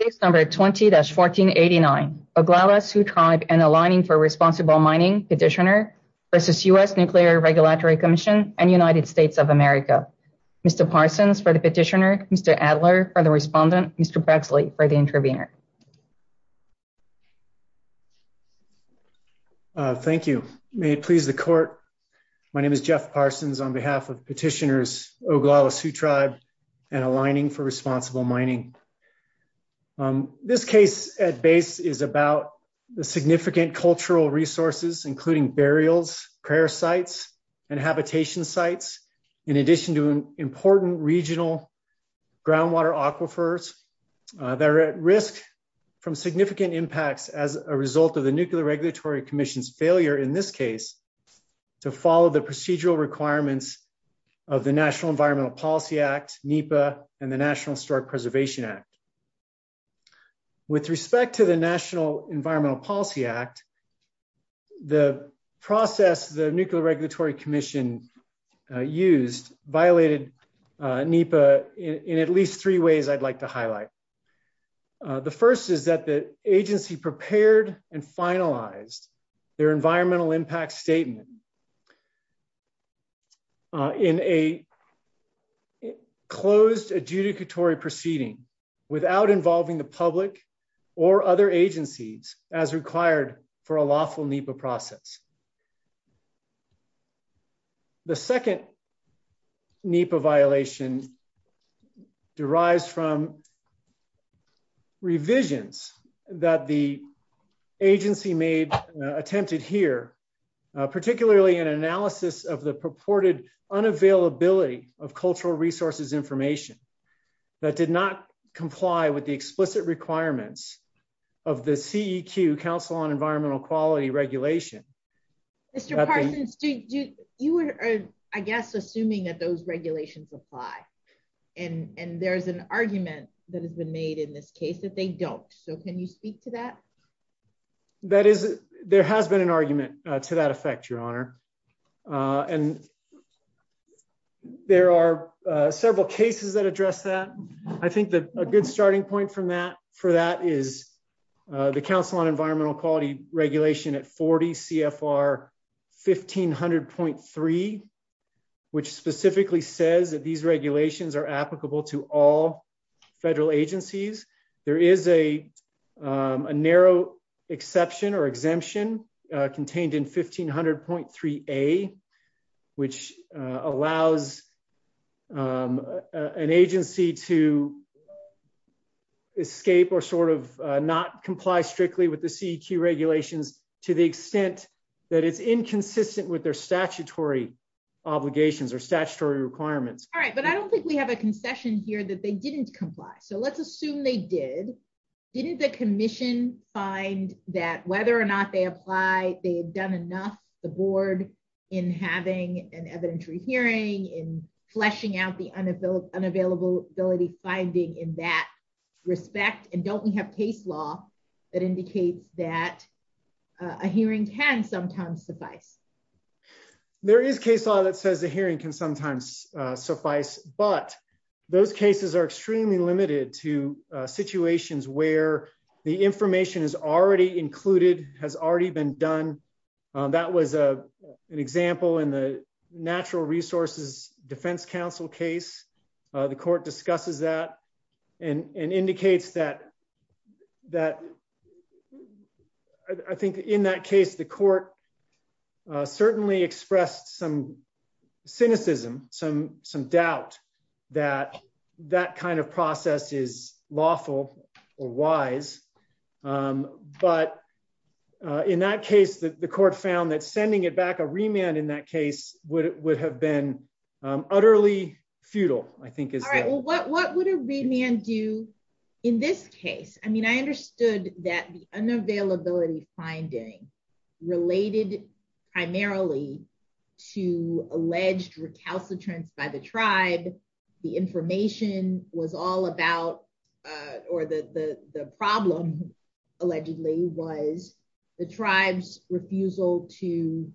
Case number 20-1489, Oglala Sioux Tribe and Alignin for Responsible Mining Petitioner versus U.S. Nuclear Regulatory Commission and United States of America. Mr. Parsons for the petitioner, Mr. Adler for the respondent, Mr. Braxley for the intervener. Thank you. May it please the court, my name is Jeff Parsons on behalf of petitioners Oglala Sioux Tribe and Alignin for Responsible Mining. This case at base is about the significant cultural resources including burials, prayer sites and habitation sites in addition to important regional groundwater aquifers that are at risk from significant impacts as a result of the Nuclear Regulatory Commission's failure in this case to follow the procedural requirements of the National Environmental Policy Act, NEPA and the National Historic Preservation Act. With respect to the National Environmental Policy Act, the process the Nuclear Regulatory Commission used violated NEPA in at least three ways I'd like to highlight. The first is that the agency prepared and finalized their environmental impact statement in a closed adjudicatory proceeding without involving the public or other agencies as required for a lawful NEPA process. The second NEPA violation derives from revisions that the agency made attempted here particularly an analysis of the purported unavailability of cultural resources information that did not comply with the explicit requirements of the CEQ Council on Environmental Quality regulation. Mr. Parsons, you are I guess assuming that those regulations apply and and there's an argument that has been made in this case that they don't so can you speak to that? That is there has been an argument to that effect your honor and there are several cases that address that. I think that a good starting point from that for that is the Council on Environmental Quality regulation at 40 CFR 1500.3 which specifically says that these regulations are applicable to all federal agencies. There is a a narrow exception or exemption contained in 1500.3a which allows an agency to escape or sort of not comply strictly with the CEQ regulations to the extent that it's inconsistent with their statutory obligations or statutory requirements. All right but I don't think we have a concession here that they didn't comply so let's assume they did. Didn't the commission find that whether or not they apply they had done enough the board in having an evidentiary hearing in fleshing out the unavailability finding in that case? There is case law that says the hearing can sometimes suffice but those cases are extremely limited to situations where the information is already included has already been done. That was a an example in the natural resources defense council case. The court discusses that and indicates that I think in that case the court certainly expressed some cynicism some doubt that that kind of process is lawful or wise but in that case the court found that sending it back a remand in that case would have been utterly futile. All right well what would a remand do in this case? I mean I understood that the unavailability finding related primarily to alleged recalcitrance by the tribe. The information was all about or the problem allegedly was the tribe's refusal to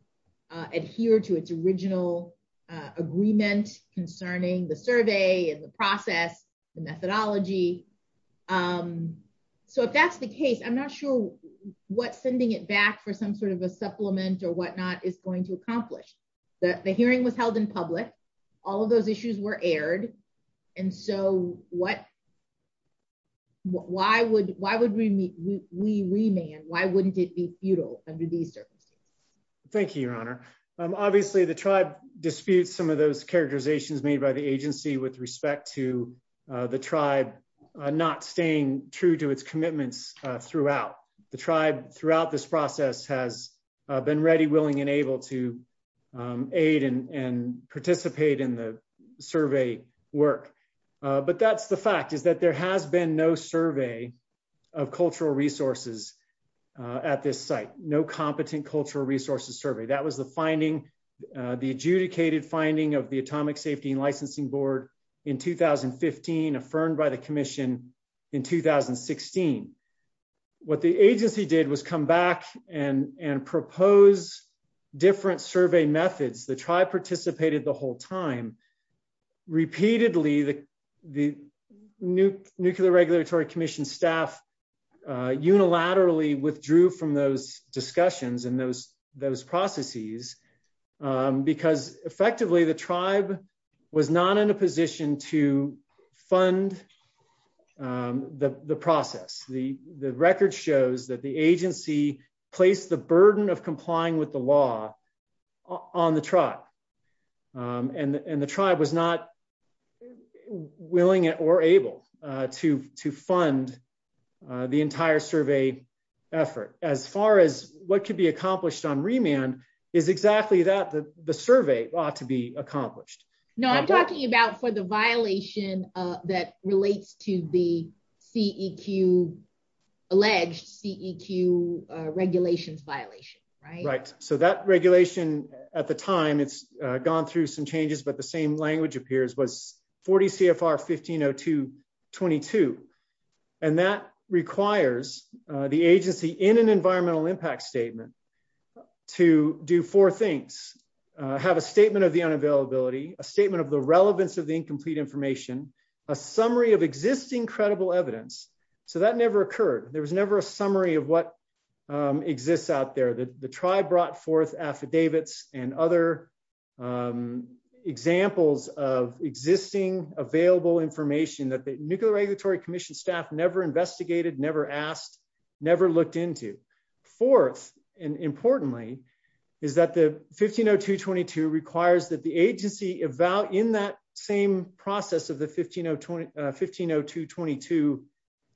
process the methodology. So if that's the case I'm not sure what sending it back for some sort of a supplement or whatnot is going to accomplish. The hearing was held in public. All of those issues were aired and so why would we remand? Why wouldn't it be futile under these services? Thank you your honor. Obviously the tribe disputes some of those characterizations made by the agency with respect to the tribe not staying true to its commitments throughout. The tribe throughout this process has been ready willing and able to aid and participate in the survey work. But that's the fact is that there has been no survey of cultural resources at this site. No competent cultural resources survey. That was the finding the adjudicated finding of the atomic safety and licensing board in 2015 affirmed by the commission in 2016. What the agency did was come back and and propose different survey methods. The tribe participated the whole time. Repeatedly the nuclear regulatory commission staff unilaterally withdrew from those discussions and those processes because effectively the tribe was not in a position to fund the process. The record shows that the agency placed the burden of complying with the law on the tribe. The tribe was not willing or able to fund the entire survey effort. As far as what could be accomplished on remand is exactly that the survey ought to be accomplished. No I'm talking about for the violation that relates to the CEQ alleged CEQ regulations violation. Right so that regulation at the time it's gone through some changes but the same language appears was 40 CFR 1502 22. And that requires the agency in an environmental impact statement to do four things. Have a statement of the unavailability. A statement of the relevance of the incomplete information. A summary of existing credible evidence. So that never occurred. There was never a summary of what exists out there. The tribe brought forth affidavits and other examples of existing available information that the nuclear regulatory commission staff never investigated, never asked, never looked into. Fourth and importantly is that the 1502 22 requires that the agency eval in that same process of the 1502 22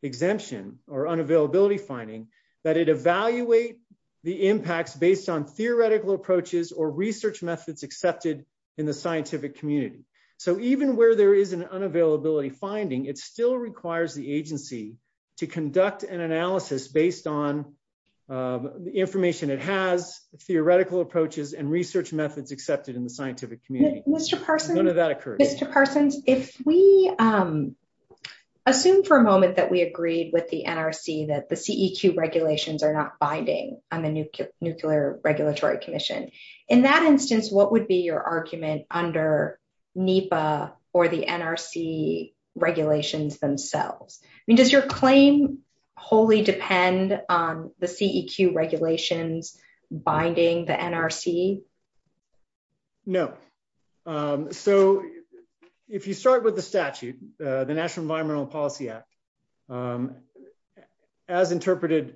exemption or unavailability finding that it evaluate the impacts based on theoretical approaches or research methods accepted in the scientific community. So even where there is an unavailability finding it still requires the agency to conduct an analysis based on the information it has, theoretical approaches and research methods accepted in the scientific community. Mr. Parsons if we assume for a moment that we agreed with the NRC that the CEQ regulations are not binding on the nuclear regulatory commission. In that instance what would be your argument under NEPA or the NRC regulations themselves? I mean does your claim wholly depend on the CEQ regulations binding the NRC? No. So if you start with the statute the National Environmental Policy Act as interpreted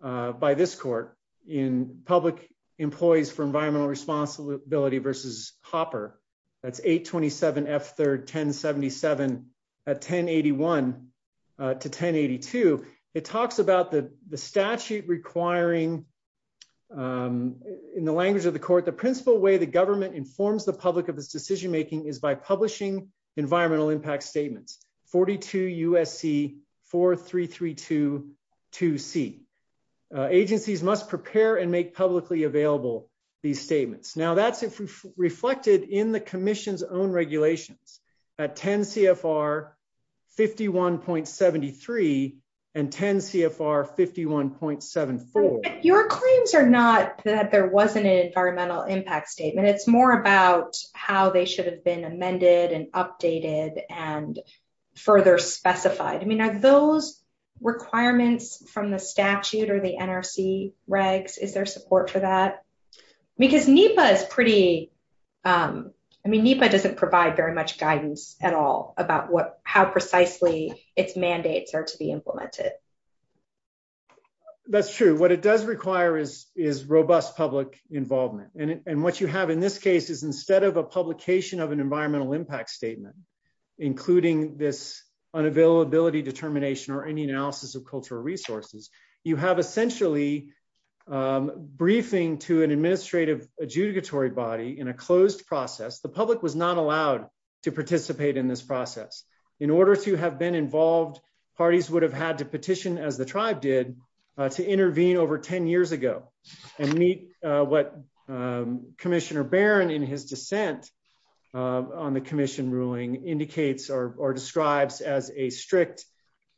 by this court in public employees for environmental responsibility versus hopper that's 827 f third 1077 at 1081 to 1082 it talks about the the statute requiring in the language of the court the principal way the government informs the public of this decision making is by publishing environmental impact statements 42 USC 43322 C. Agencies must prepare and make publicly available these statements. Now that's reflected in the commission's own regulations at 10 CFR 51.73 and 10 CFR 51.74. Your claims are not that there wasn't an environmental impact statement it's more about how they should have been amended and updated and further specified. I mean are those requirements from the statute or the NRC regs is there support for that? Because NEPA is pretty I mean NEPA doesn't provide very much guidance at all about what how precisely its mandates are to be implemented. That's true what it does require is is robust public involvement and what you have in this case is instead of a publication of an environmental impact statement including this unavailability determination or any analysis of cultural resources you have essentially briefing to an administrative adjudicatory body in a closed process the public was not allowed to participate in this process. In order to have been involved parties would have had to petition as the tribe did to intervene over 10 years ago and meet what Commissioner Barron in his dissent on the commission ruling indicates or describes as a strict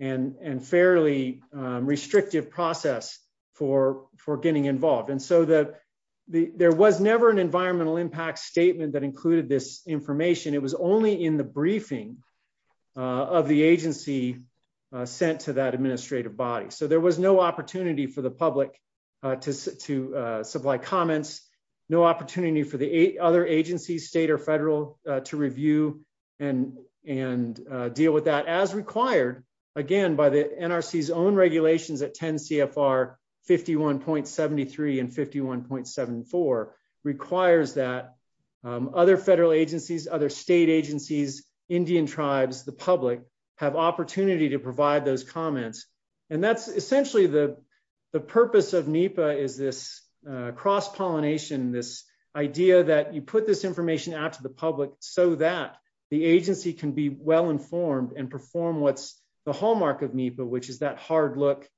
and and fairly restrictive process for for getting involved. And so that the there was never an environmental impact statement that included this information it was only in the briefing of the agency sent to that administrative body. So there was no opportunity for the public to to supply comments no opportunity for the other agencies state or federal to review and and deal with that as required again by the NRC's own regulations at 10 CFR 51.73 and 51.74 requires that other federal agencies other state agencies Indian tribes the public have opportunity to provide those comments and that's essentially the the purpose of NEPA is this cross-pollination this idea that you put this information out to the public so that the agency can be well informed and perform what's the hallmark of NEPA which is that hard look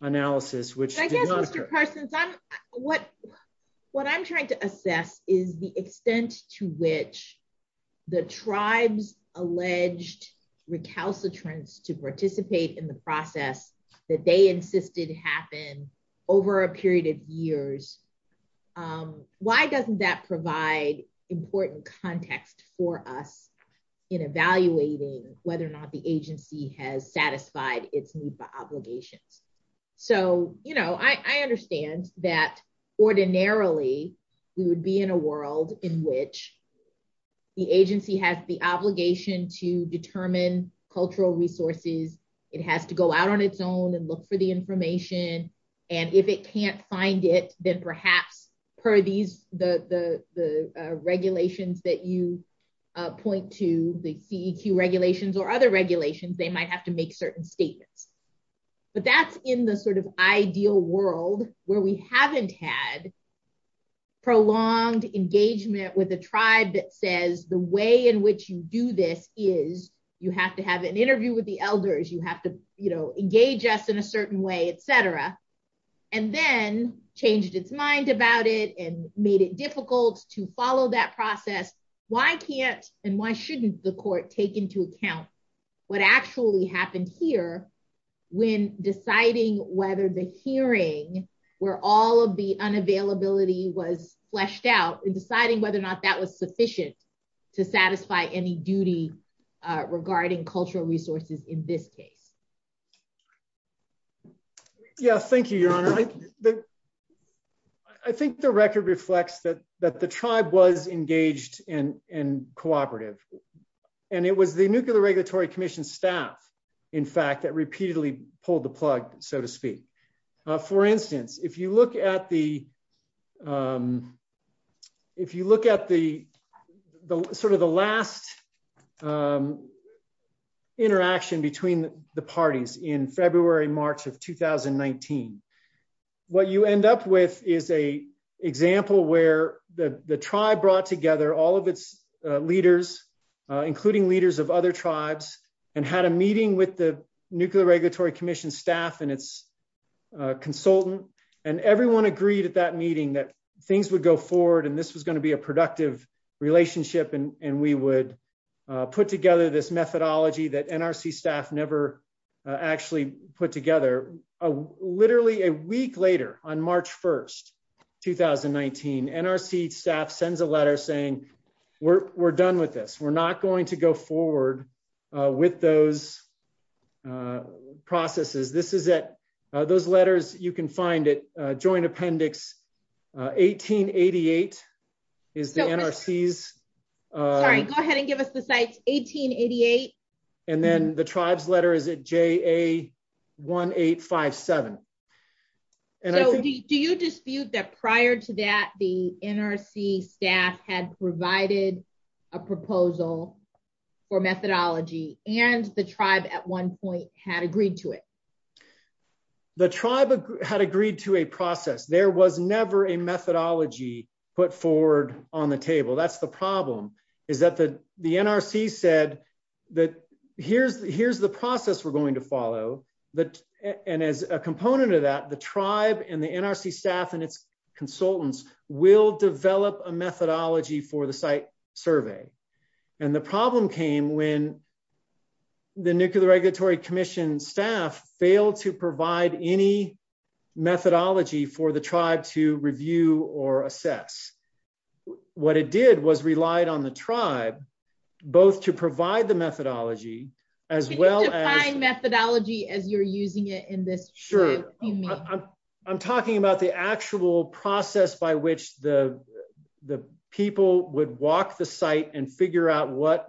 analysis which I guess Mr. Parsons I'm what what I'm trying to assess is the extent to which the tribes alleged recalcitrance to participate in the process that they insisted happen over a period of years why doesn't that provide important context for us in evaluating whether or not the agency has satisfied its NEPA obligations. So you know I understand that ordinarily we would be in a world in which the agency has the obligation to determine cultural resources it has to go out on its own and look for the information and if it can't find it then perhaps per these the the regulations that you point to the CEQ regulations or other regulations they might have to make certain statements but that's in the sort of ideal world where we haven't had prolonged engagement with a tribe that says the way in which you do this is you have to have an interview with the elders you have to you know engage us in a certain way etc and then changed its mind about it and made it difficult to follow that process why can't and why shouldn't the court take into account what actually happened here when deciding whether the where all of the unavailability was fleshed out and deciding whether or not that was sufficient to satisfy any duty regarding cultural resources in this case. Yeah thank you your honor I think the record reflects that that the tribe was engaged in in cooperative and it was the nuclear regulatory commission staff in fact that repeatedly pulled the plug so to speak for instance if you look at the if you look at the sort of the last interaction between the parties in February March of 2019 what you end up with is a example where the tribe brought together all of its leaders including leaders of other tribes and had a regulatory commission staff and its consultant and everyone agreed at that meeting that things would go forward and this was going to be a productive relationship and we would put together this methodology that NRC staff never actually put together. Literally a week later on March 1st 2019 NRC staff sends a letter saying we're done with this we're not going to go forward with those processes this is at those letters you can find it joint appendix 1888 is the NRC's sorry go ahead and give us the sites 1888 and then the tribe's letter is at JA 1857 and do you dispute that prior to that the NRC staff had provided a proposal for methodology and the tribe at one point had agreed to it? The tribe had agreed to a process there was never a methodology put forward on the table that's the problem is that the the NRC said that here's here's the process we're going to follow that and as a component of that the tribe and the NRC staff and its consultants will develop a methodology for the site survey and the problem came when the Nuclear Regulatory Commission staff failed to provide any methodology for the tribe to review or assess what it did was relied on the tribe both to provide the methodology as well as methodology as you're using it in this sure I'm talking about the actual process by which the people would walk the site and figure out what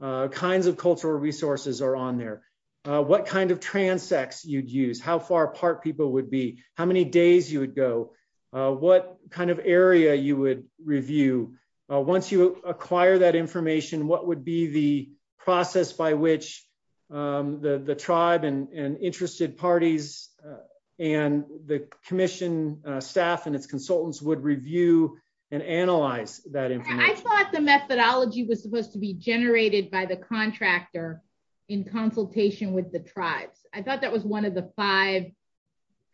kinds of cultural resources are on there what kind of transects you'd use how far apart people would be how many days you would go what kind of area you would review once you acquire that information what would be the process by which the tribe and interested parties and the commission staff and its consultants would review and analyze that I thought the methodology was supposed to be generated by the contractor in consultation with the tribes I thought that was one of the five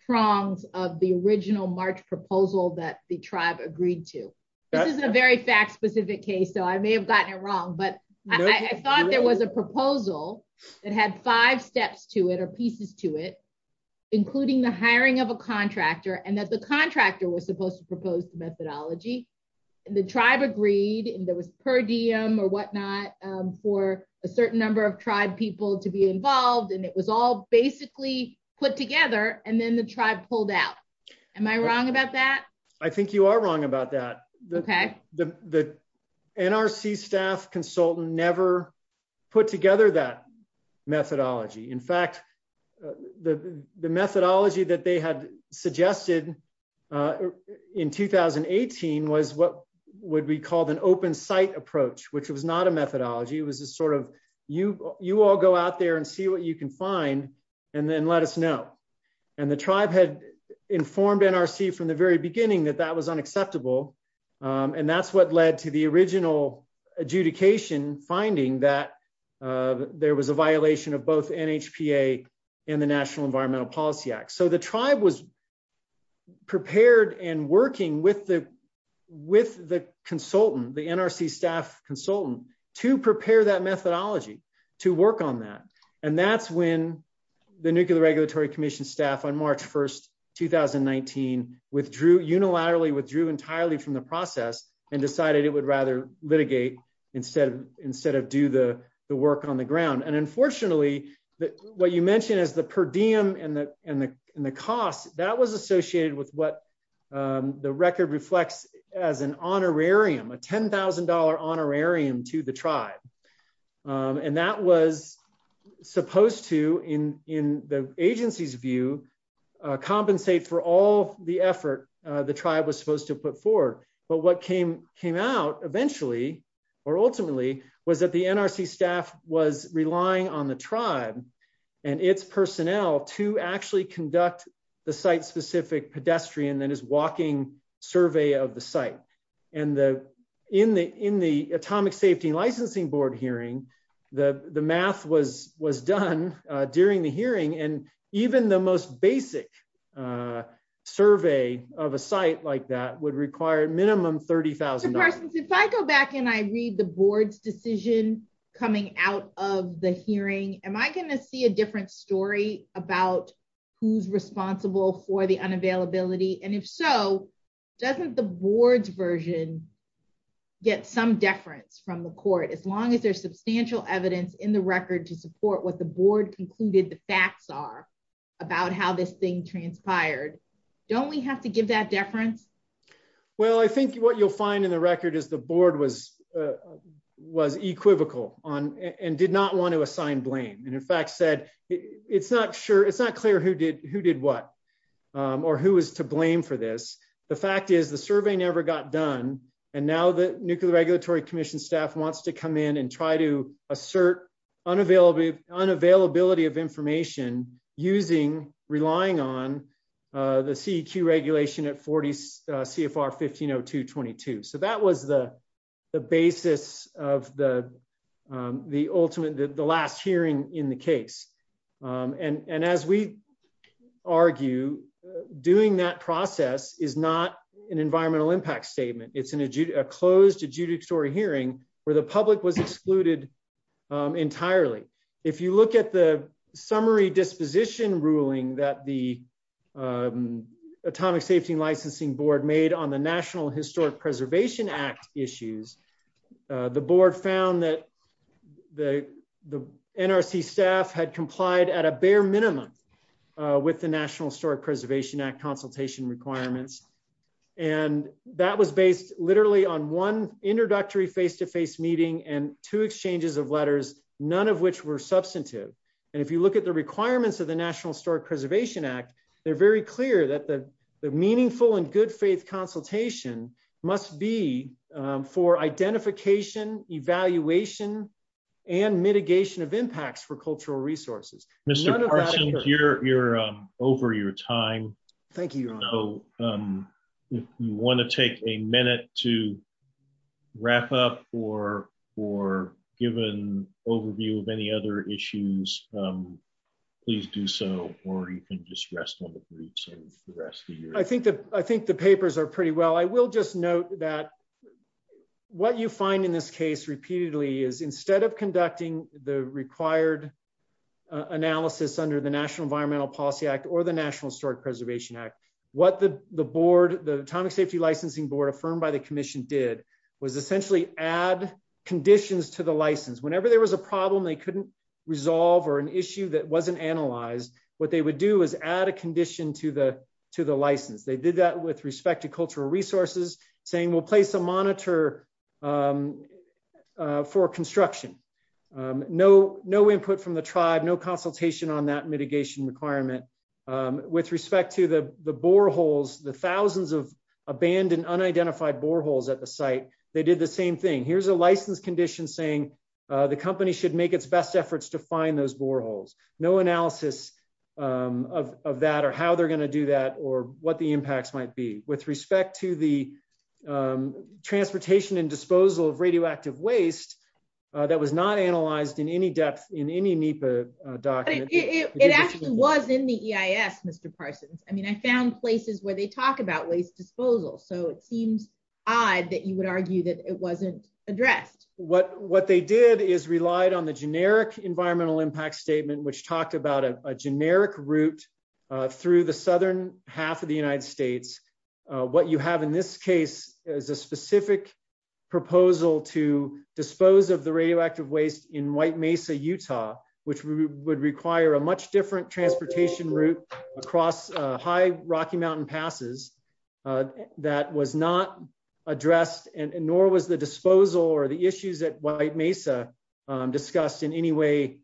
prongs of the original March proposal that the tribe agreed to this is a very fact-specific case so I may have gotten it wrong but I thought there was a proposal that had five steps to it or pieces to it including the hiring of a contractor and that the contractor was supposed to propose the methodology and the tribe agreed and there was per diem or whatnot for a certain number of tribe people to be involved and it was all basically put together and then the tribe pulled out am I wrong about that I think you are wrong about that okay the the NRC staff consultant never put together that methodology in fact the the methodology that they had suggested uh in 2018 was what would be called an open site approach which was not a methodology it was a sort of you you all go out there and see what you can find and then let us know and the tribe had informed NRC from the very beginning that was unacceptable and that's what led to the original adjudication finding that there was a violation of both NHPA and the National Environmental Policy Act so the tribe was prepared and working with the with the consultant the NRC staff consultant to prepare that methodology to work on that and that's when the Nuclear Regulatory Commission staff on March 1st 2019 withdrew unilaterally withdrew entirely from the process and decided it would rather litigate instead of instead of do the the work on the ground and unfortunately that what you mentioned is the per diem and the and the and the cost that was associated with what the record reflects as an honorarium a ten thousand dollar honorarium to the tribe and that was supposed to in in the agency's view compensate for all the effort the tribe was supposed to put forward but what came came out eventually or ultimately was that the NRC staff was relying on the tribe and its personnel to actually conduct the site-specific pedestrian walking survey of the site and the in the in the Atomic Safety Licensing Board hearing the the math was was done during the hearing and even the most basic survey of a site like that would require minimum $30,000. If I go back and I read the board's decision coming out of the hearing am I going to see a different story about who's responsible for unavailability and if so doesn't the board's version get some deference from the court as long as there's substantial evidence in the record to support what the board concluded the facts are about how this thing transpired don't we have to give that deference? Well I think what you'll find in the record is the board was was equivocal on and did not want to assign blame and in fact said it's not sure it's not clear who did who did what or who is to blame for this the fact is the survey never got done and now the Nuclear Regulatory Commission staff wants to come in and try to assert unavailability of information using relying on the CEQ regulation at 40 CFR 15022. So that was the the basis of the ultimate the last hearing in the case and as we argue doing that process is not an environmental impact statement it's a closed adjudicatory hearing where the public was excluded entirely. If you look at the summary disposition ruling that the National Historic Preservation Act issues the board found that the NRC staff had complied at a bare minimum with the National Historic Preservation Act consultation requirements and that was based literally on one introductory face-to-face meeting and two exchanges of letters none of which were substantive and if you look at the requirements of the National Historic Preservation Act they're very clear that the meaningful and good faith consultation must be for identification evaluation and mitigation of impacts for cultural resources. Mr. Parsons you're over your time. Thank you. So if you want to take a minute to you can just rest on the briefs of the rest of the year. I think the papers are pretty well. I will just note that what you find in this case repeatedly is instead of conducting the required analysis under the National Environmental Policy Act or the National Historic Preservation Act what the the board the Atomic Safety Licensing Board affirmed by the commission did was essentially add conditions to the license. Whenever there was a problem they couldn't resolve or an issue that wasn't analyzed what they would do is add a condition to the to the license. They did that with respect to cultural resources saying we'll place a monitor for construction. No input from the tribe, no consultation on that mitigation requirement. With respect to the boreholes the thousands of abandoned unidentified boreholes at the site they did the same thing. Here's a license condition saying the company should make its efforts to find those boreholes. No analysis of that or how they're going to do that or what the impacts might be. With respect to the transportation and disposal of radioactive waste that was not analyzed in any depth in any NEPA document. It actually was in the EIS Mr. Parsons. I mean I found places where they talk about waste disposal so it seems odd that you would argue that it wasn't what what they did is relied on the generic environmental impact statement which talked about a generic route through the southern half of the United States. What you have in this case is a specific proposal to dispose of the radioactive waste in White Mesa Utah which would require a much different transportation route across high Rocky Mountain passes that was not addressed and nor was the disposal or the issues that White Mesa discussed in any way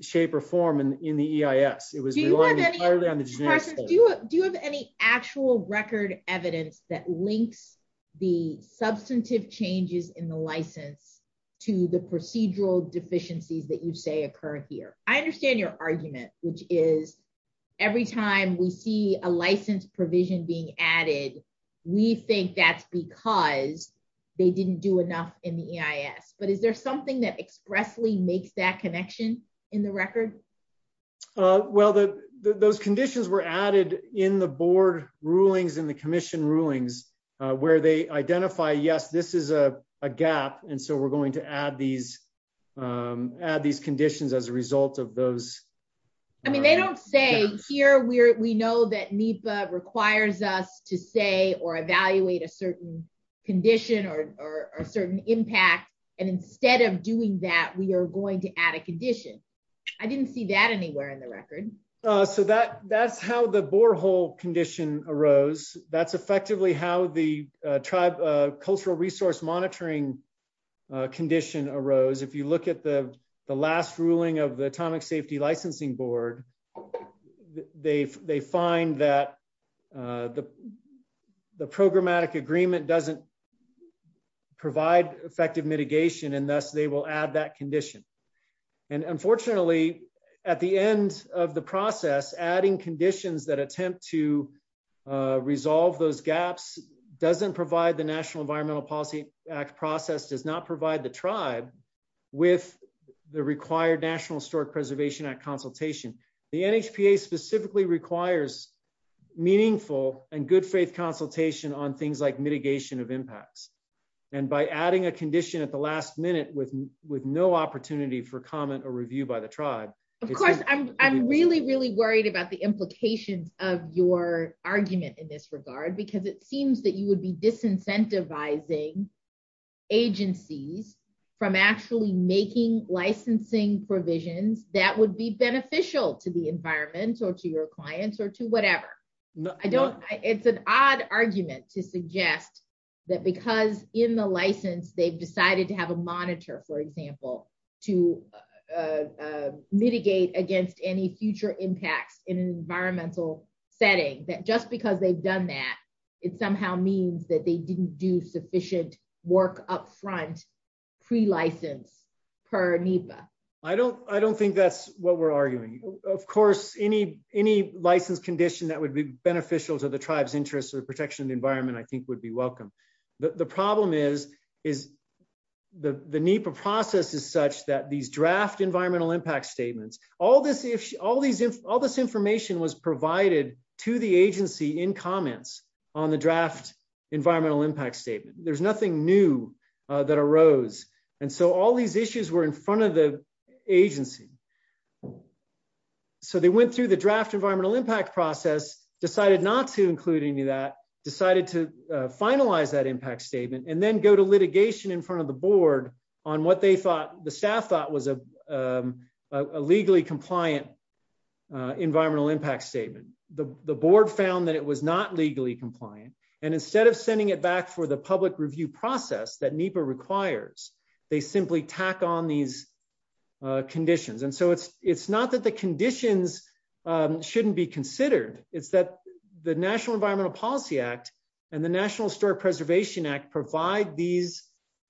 shape or form in the EIS. It was entirely on the generic. Do you have any actual record evidence that links the substantive changes in the license to the procedural deficiencies that you say occur here? I understand your argument which is every time we see a license provision being added we think that's because they didn't do enough in the EIS but is there something that expressly makes that connection in the record? Well the those conditions were added in the board rulings in the commission rulings where they identify yes this is a gap and so we're going to add these add these conditions as a result of those. I mean they don't say here we're we know that NEPA requires us to say or evaluate a certain condition or a certain impact and instead of doing that we are going to add a condition. I didn't see that anywhere in the record. So that that's how the borehole condition arose. That's effectively how the tribe cultural resource monitoring condition arose. If you look at the the last ruling of the atomic safety licensing board they find that the programmatic agreement doesn't provide effective mitigation and thus they will add that condition. And unfortunately at the end of the process adding conditions that attempt to resolve those gaps doesn't provide the National Environmental Policy Act process does not provide the tribe with the required National Historic Preservation Act consultation. The NHPA specifically requires meaningful and good faith consultation on things like mitigation of impacts and by adding a condition at the last minute with with no opportunity for comment or review by the tribe. Of course I'm really really worried about the implications of your argument in this regard because it seems that you would be disincentivizing agencies from actually making licensing provisions that would be beneficial to the environment or to your clients or to whatever. I don't it's an odd argument to suggest that because in the license they've decided to have a monitor for example to mitigate against any future impacts in an environmental setting that just because they've done that it somehow means that they didn't do sufficient work up front pre-license per NHPA. I don't think that's what we're arguing. Of course any license condition that would be beneficial to the tribe's interests or protection of the environment I think would be welcome. The problem is the NHPA process is such that these draft environmental in comments on the draft environmental impact statement. There's nothing new that arose and so all these issues were in front of the agency. So they went through the draft environmental impact process decided not to include any of that decided to finalize that impact statement and then go to litigation in front of the board on what they thought the staff was a legally compliant environmental impact statement. The board found that it was not legally compliant and instead of sending it back for the public review process that NEPA requires they simply tack on these conditions and so it's not that the conditions shouldn't be considered it's that the National Environmental Policy Act and the National Historic Preservation Act provide these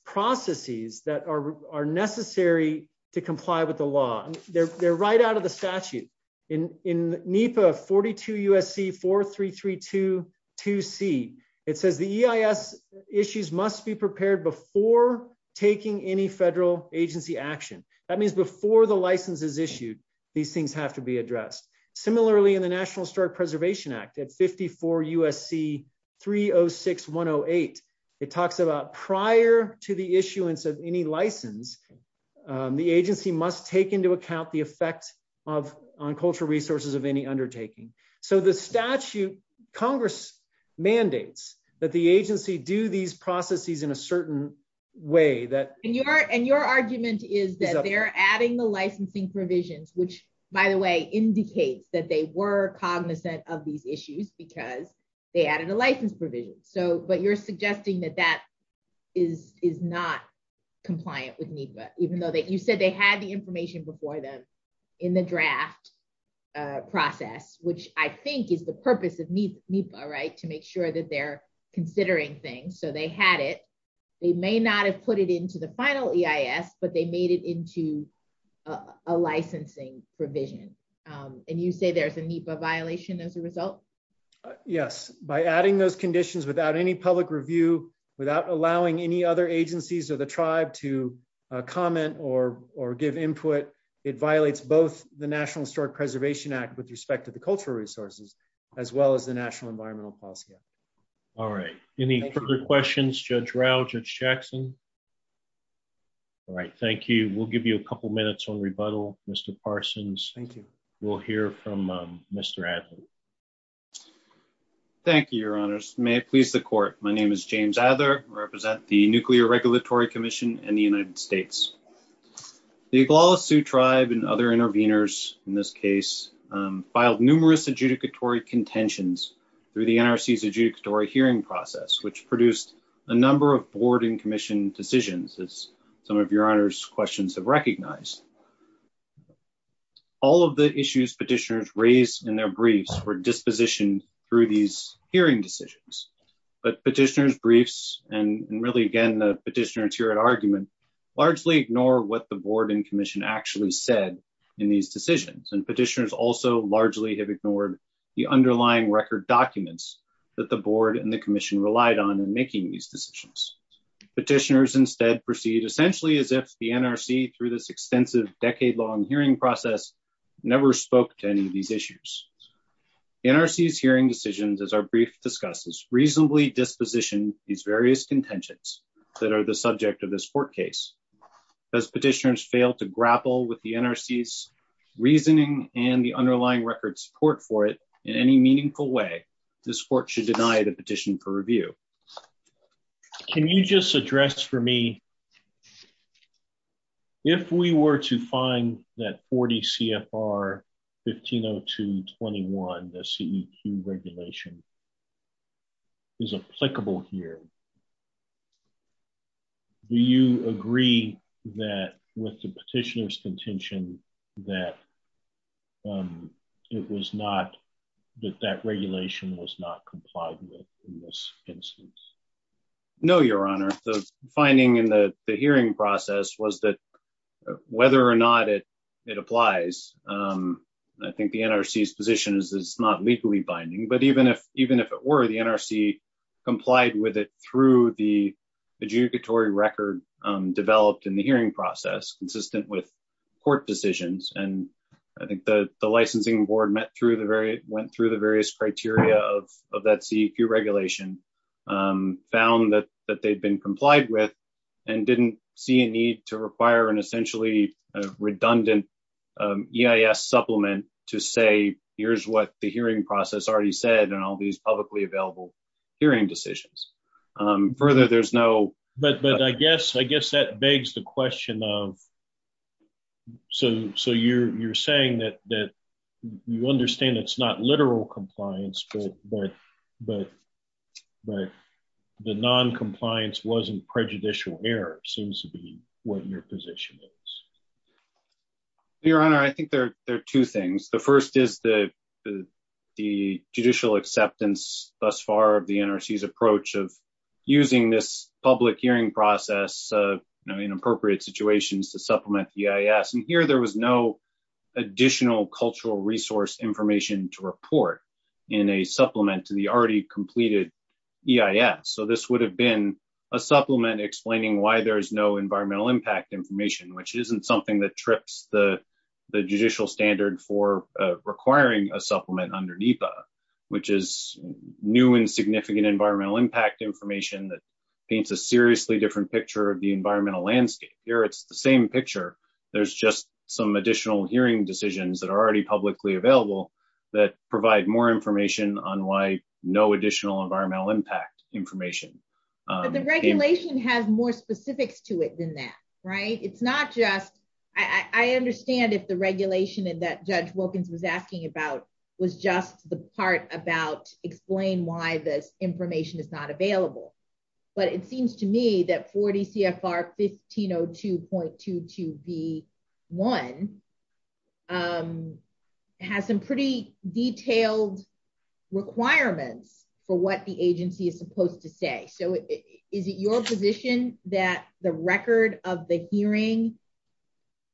processes that are necessary to comply with the law. They're right out of the statute in NEPA 42 USC 43322C it says the EIS issues must be prepared before taking any federal agency action. That means before the license is issued these things have to be addressed. Similarly in National Historic Preservation Act at 54 USC 306108 it talks about prior to the issuance of any license the agency must take into account the effect of on cultural resources of any undertaking. So the statute congress mandates that the agency do these processes in a certain way that and your and your argument is that they're adding the licensing provisions which by the way indicates that they were cognizant of these issues because they added a license provision so but you're suggesting that that is is not compliant with NEPA even though that you said they had the information before them in the draft process which I think is the purpose of NEPA right to make sure that they're considering things so they had it they may not have put it into the final EIS but they made it into a licensing provision and you say there's a NEPA violation as a result? Yes by adding those conditions without any public review without allowing any other agencies or the tribe to comment or or give input it violates both the National Historic Preservation Act with respect to the cultural resources as well as the National Environmental Policy Act. All right any further questions Judge Rao, Judge Jackson? All right thank you we'll give you a couple minutes on rebuttal Mr. Parsons. Thank you. We'll hear from Mr. Adler. Thank you your honors may it please the court my name is James Adler represent the Nuclear Regulatory Commission in the United States. The Iguala Sioux tribe and other interveners in this case filed numerous adjudicatory contentions through the NRC's adjudicatory hearing process which produced a number of board and commission decisions as some of your honors questions have recognized. All of the issues petitioners raised in their briefs were dispositioned through these hearing decisions but petitioners briefs and really again the petitioners here at argument largely ignore what the board and commission actually said in these decisions and petitioners also largely have ignored the underlying record documents that the board and the commission relied on in making these decisions. Petitioners instead proceed essentially as if the NRC through this extensive decade-long hearing process never spoke to any of these issues. NRC's hearing decisions as our brief discusses reasonably disposition these various contentions that are the subject of this court does petitioners fail to grapple with the NRC's reasoning and the underlying record support for it in any meaningful way this court should deny the petition for review. Can you just address for me if we were to find that 40 CFR 1502 21 the CEQ regulation is applicable here do you agree that with the petitioner's contention that it was not that that regulation was not complied with in this instance? No your honor the finding in the hearing process was that whether or not it it applies I think the NRC's position is it's not legally binding but even if it were the NRC complied with it through the adjudicatory record developed in the hearing process consistent with court decisions and I think the the licensing board met through the very went through the various criteria of that CEQ regulation found that that they'd been complied with and didn't see a need to require an essentially a redundant EIS supplement to say here's what the hearing process already said and all these publicly available hearing decisions. Further there's no but but I guess I guess that begs the question of so so you're you're saying that that you understand it's not literal compliance but but the non-compliance wasn't prejudicial error seems to be what your position is. Your honor I think there are two things the first is the the judicial acceptance thus far of the NRC's approach of using this public hearing process you know in appropriate situations to supplement EIS and here there was no additional cultural resource information to report in a supplement to the already completed EIS so this would have been a supplement explaining why there's no environmental impact information which isn't something that trips the the judicial standard for requiring a supplement under NEPA which is new and significant environmental impact information that paints a seriously different picture of the environmental landscape here it's the same picture there's just some additional hearing decisions that are already publicly available that provide more information on why no additional environmental impact information. The regulation has more specifics to it than that right it's not just I I understand if the regulation and that Judge Wilkins was asking about was just the part about explain why this information is not available but it seems to me that 40 CFR 1502.22 v 1 um has some pretty detailed requirements for what the agency is supposed to say so is it your position that the record of the hearing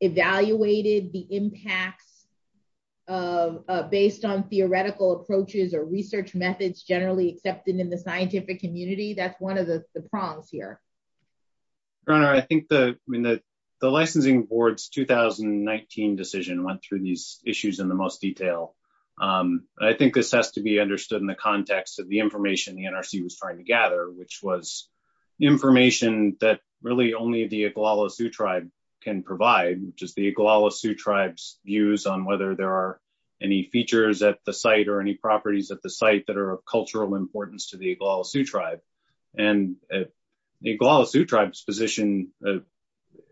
evaluated the impacts of based on theoretical approaches or research methods generally accepted in the scientific community that's one of the the prongs here. Your honor I think the I mean the the licensing board's 2019 decision went through these issues in the most detail um I think this has to be understood in the context of the information the NRC was trying to gather which was information that really only the Iguala Sioux tribe can provide which is the Iguala Sioux tribes views on whether there are any features at the site or any properties at the site that are of cultural importance to the Iguala Sioux tribe and the Iguala Sioux tribe's position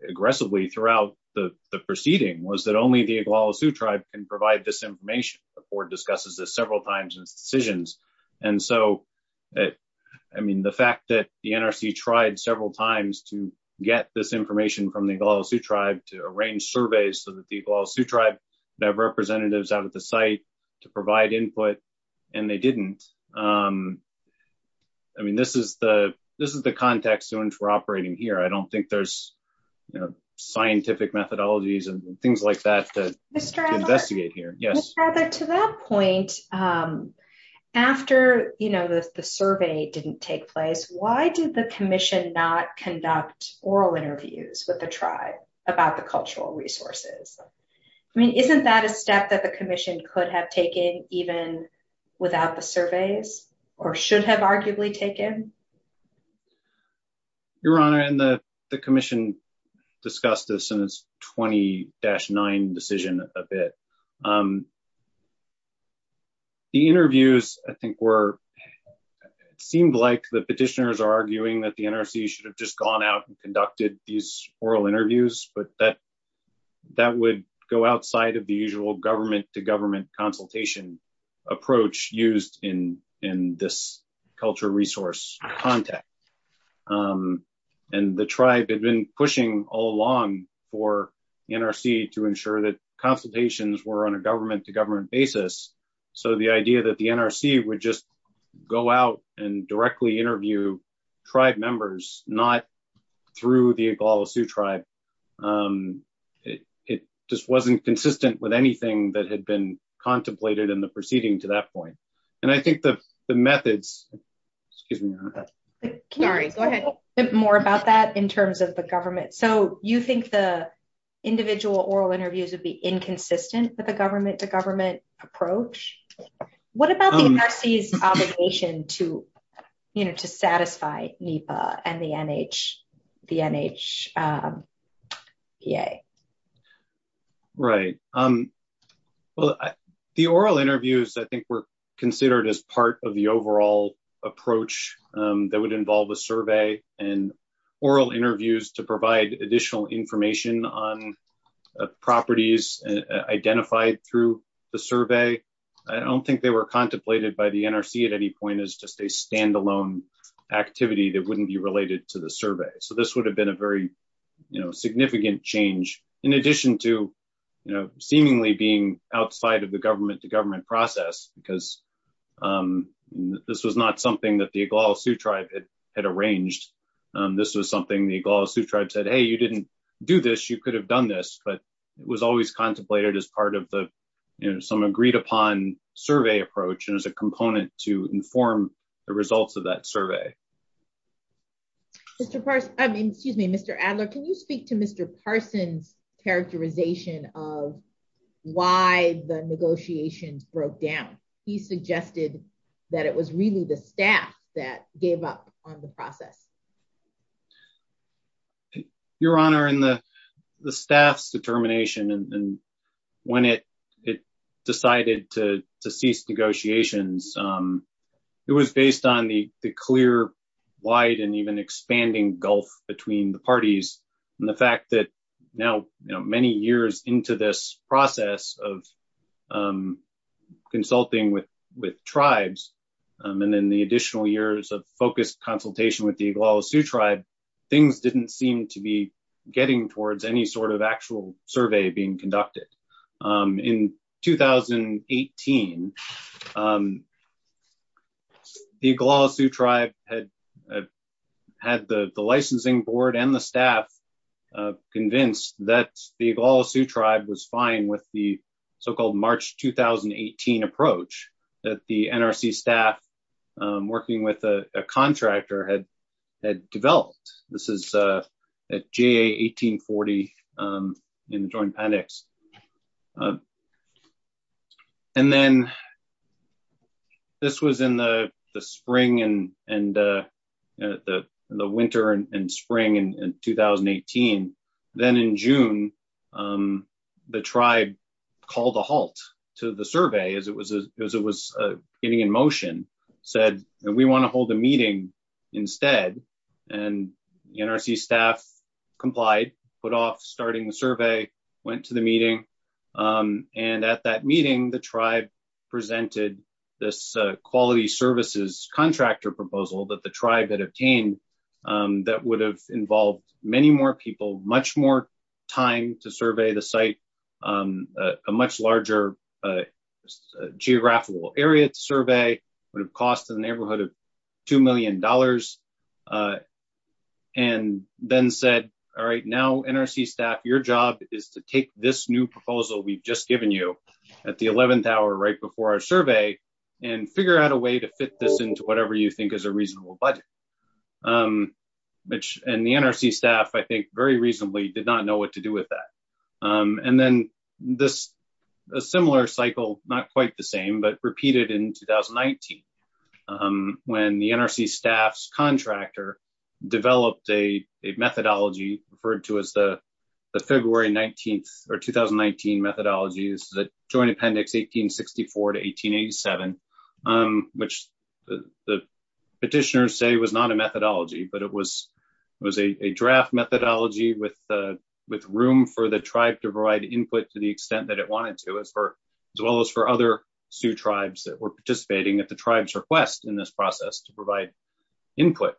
aggressively throughout the the proceeding was that only the Iguala Sioux tribe can provide this information the board discusses this several times in its decisions and so I mean the fact that the NRC tried several times to get this information from the Iguala Sioux tribe to arrange surveys so that the Iguala Sioux tribe would have I mean this is the this is the context in which we're operating here I don't think there's you know scientific methodologies and things like that to investigate here. Yes to that point um after you know the survey didn't take place why did the commission not conduct oral interviews with the tribe about the cultural resources I mean isn't that a step that the commission could have taken even without the surveys or should have arguably taken? Your honor and the the commission discussed this in its 20-9 decision a bit um the interviews I think were seemed like the petitioners are arguing that the NRC should have just gone out and conducted these oral interviews but that that would go outside of usual government-to-government consultation approach used in in this culture resource context um and the tribe had been pushing all along for the NRC to ensure that consultations were on a government-to-government basis so the idea that the NRC would just go out and directly anything that had been contemplated in the proceeding to that point and I think the the methods excuse me sorry go ahead more about that in terms of the government so you think the individual oral interviews would be inconsistent with the government-to-government approach what about the NRC's obligation to you know to satisfy NEPA and the NH the NHPA? Right um well the oral interviews I think were considered as part of the overall approach that would involve a survey and oral interviews to provide additional information on properties identified through the survey I don't think they were contemplated by the NRC at any point as just a standalone activity that wouldn't be related to the survey so this would have been very you know significant change in addition to you know seemingly being outside of the government-to-government process because um this was not something that the Iguala Sioux tribe had arranged this was something the Iguala Sioux tribe said hey you didn't do this you could have done this but it was always contemplated as part of the you know some agreed upon survey approach and as a component to inform the results of that survey. Mr. Parson I mean excuse me Mr. Adler can you speak to Mr. Parson's characterization of why the negotiations broke down he suggested that it was really the staff that gave up on the process? Your honor in the the staff's determination and when it it decided to to cease negotiations um it was based on the the clear wide and even expanding gulf between the parties and the fact that now you know many years into this process of um consulting with with tribes and then the additional years of focused consultation with the Iguala Sioux tribe things didn't seem to be getting towards any sort of actual survey being conducted. In 2018 the Iguala Sioux tribe had had the the licensing board and the staff convinced that the Iguala Sioux tribe was fine with the so-called March 2018 approach that the NRC staff working with a contractor had had developed this is uh at JA 1840 um in the joint the spring and and uh the the winter and spring in 2018. Then in June um the tribe called a halt to the survey as it was as it was uh getting in motion said we want to hold a meeting instead and the NRC staff complied put off starting the survey went to the meeting um and at that meeting the tribe presented this quality services contractor proposal that the tribe had obtained that would have involved many more people much more time to survey the site um a much larger geographical area to survey would have cost the neighborhood of two million dollars and then said all right now NRC staff your job is to take this new proposal we've just given you at the 11th hour right before our survey and figure out a way to fit this into whatever you think is a reasonable budget um which and the NRC staff I think very reasonably did not know what to do with that um and then this a similar cycle not quite the same but repeated in 2019 um when the NRC staff's contractor developed a a methodology referred to as the the February 19th or 2019 methodology this is a joint appendix 1864 to 1887 um which the the petitioners say was not a methodology but it was it was a a draft methodology with uh with room for the tribe to provide input to the extent that it wanted to as for as well as for other Sioux tribes that were participating at the tribe's request in this process to provide input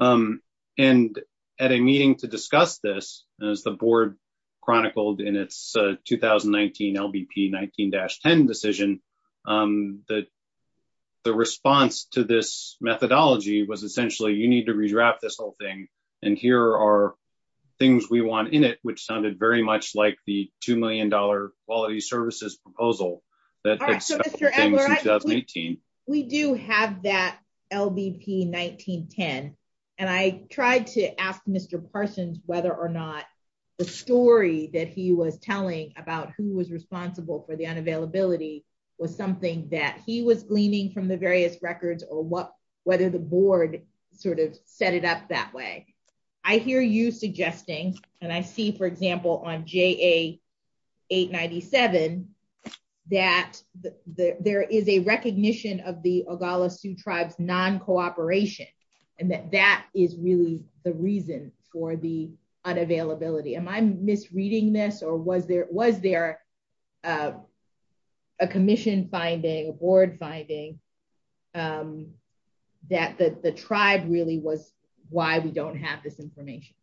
um and at a meeting to discuss this as the 2019 LBP 19-10 decision um that the response to this methodology was essentially you need to redraft this whole thing and here are things we want in it which sounded very much like the two million dollar quality services proposal that we do have that LBP 1910 and I tried to ask Mr. Parsons whether or not the story that he was telling about who was responsible for the unavailability was something that he was gleaning from the various records or what whether the board sort of set it up that way I hear you suggesting and I see for example on JA 897 that there is a unavailability am I misreading this or was there was there uh a commission finding a board finding um that the the tribe really was why we don't have this information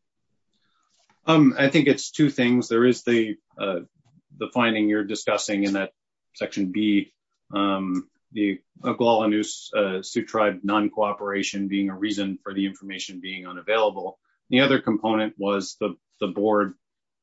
um I think it's two things there is the uh the finding you're discussing in that section b um the Oglala Sioux tribe non-cooperation being a reason for the information being unavailable the other component was the board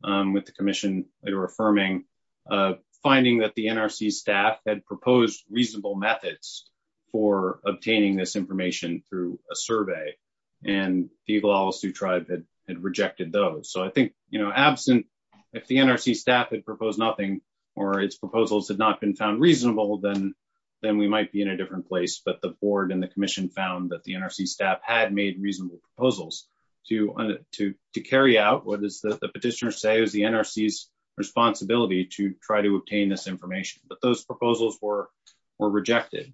um with the commission later affirming uh finding that the NRC staff had proposed reasonable methods for obtaining this information through a survey and the Oglala Sioux tribe had had rejected those so I think you know absent if the NRC staff had proposed nothing or its proposals had not been found reasonable then then we might be in a different place but the board and the is that the petitioner say is the NRC's responsibility to try to obtain this information but those proposals were were rejected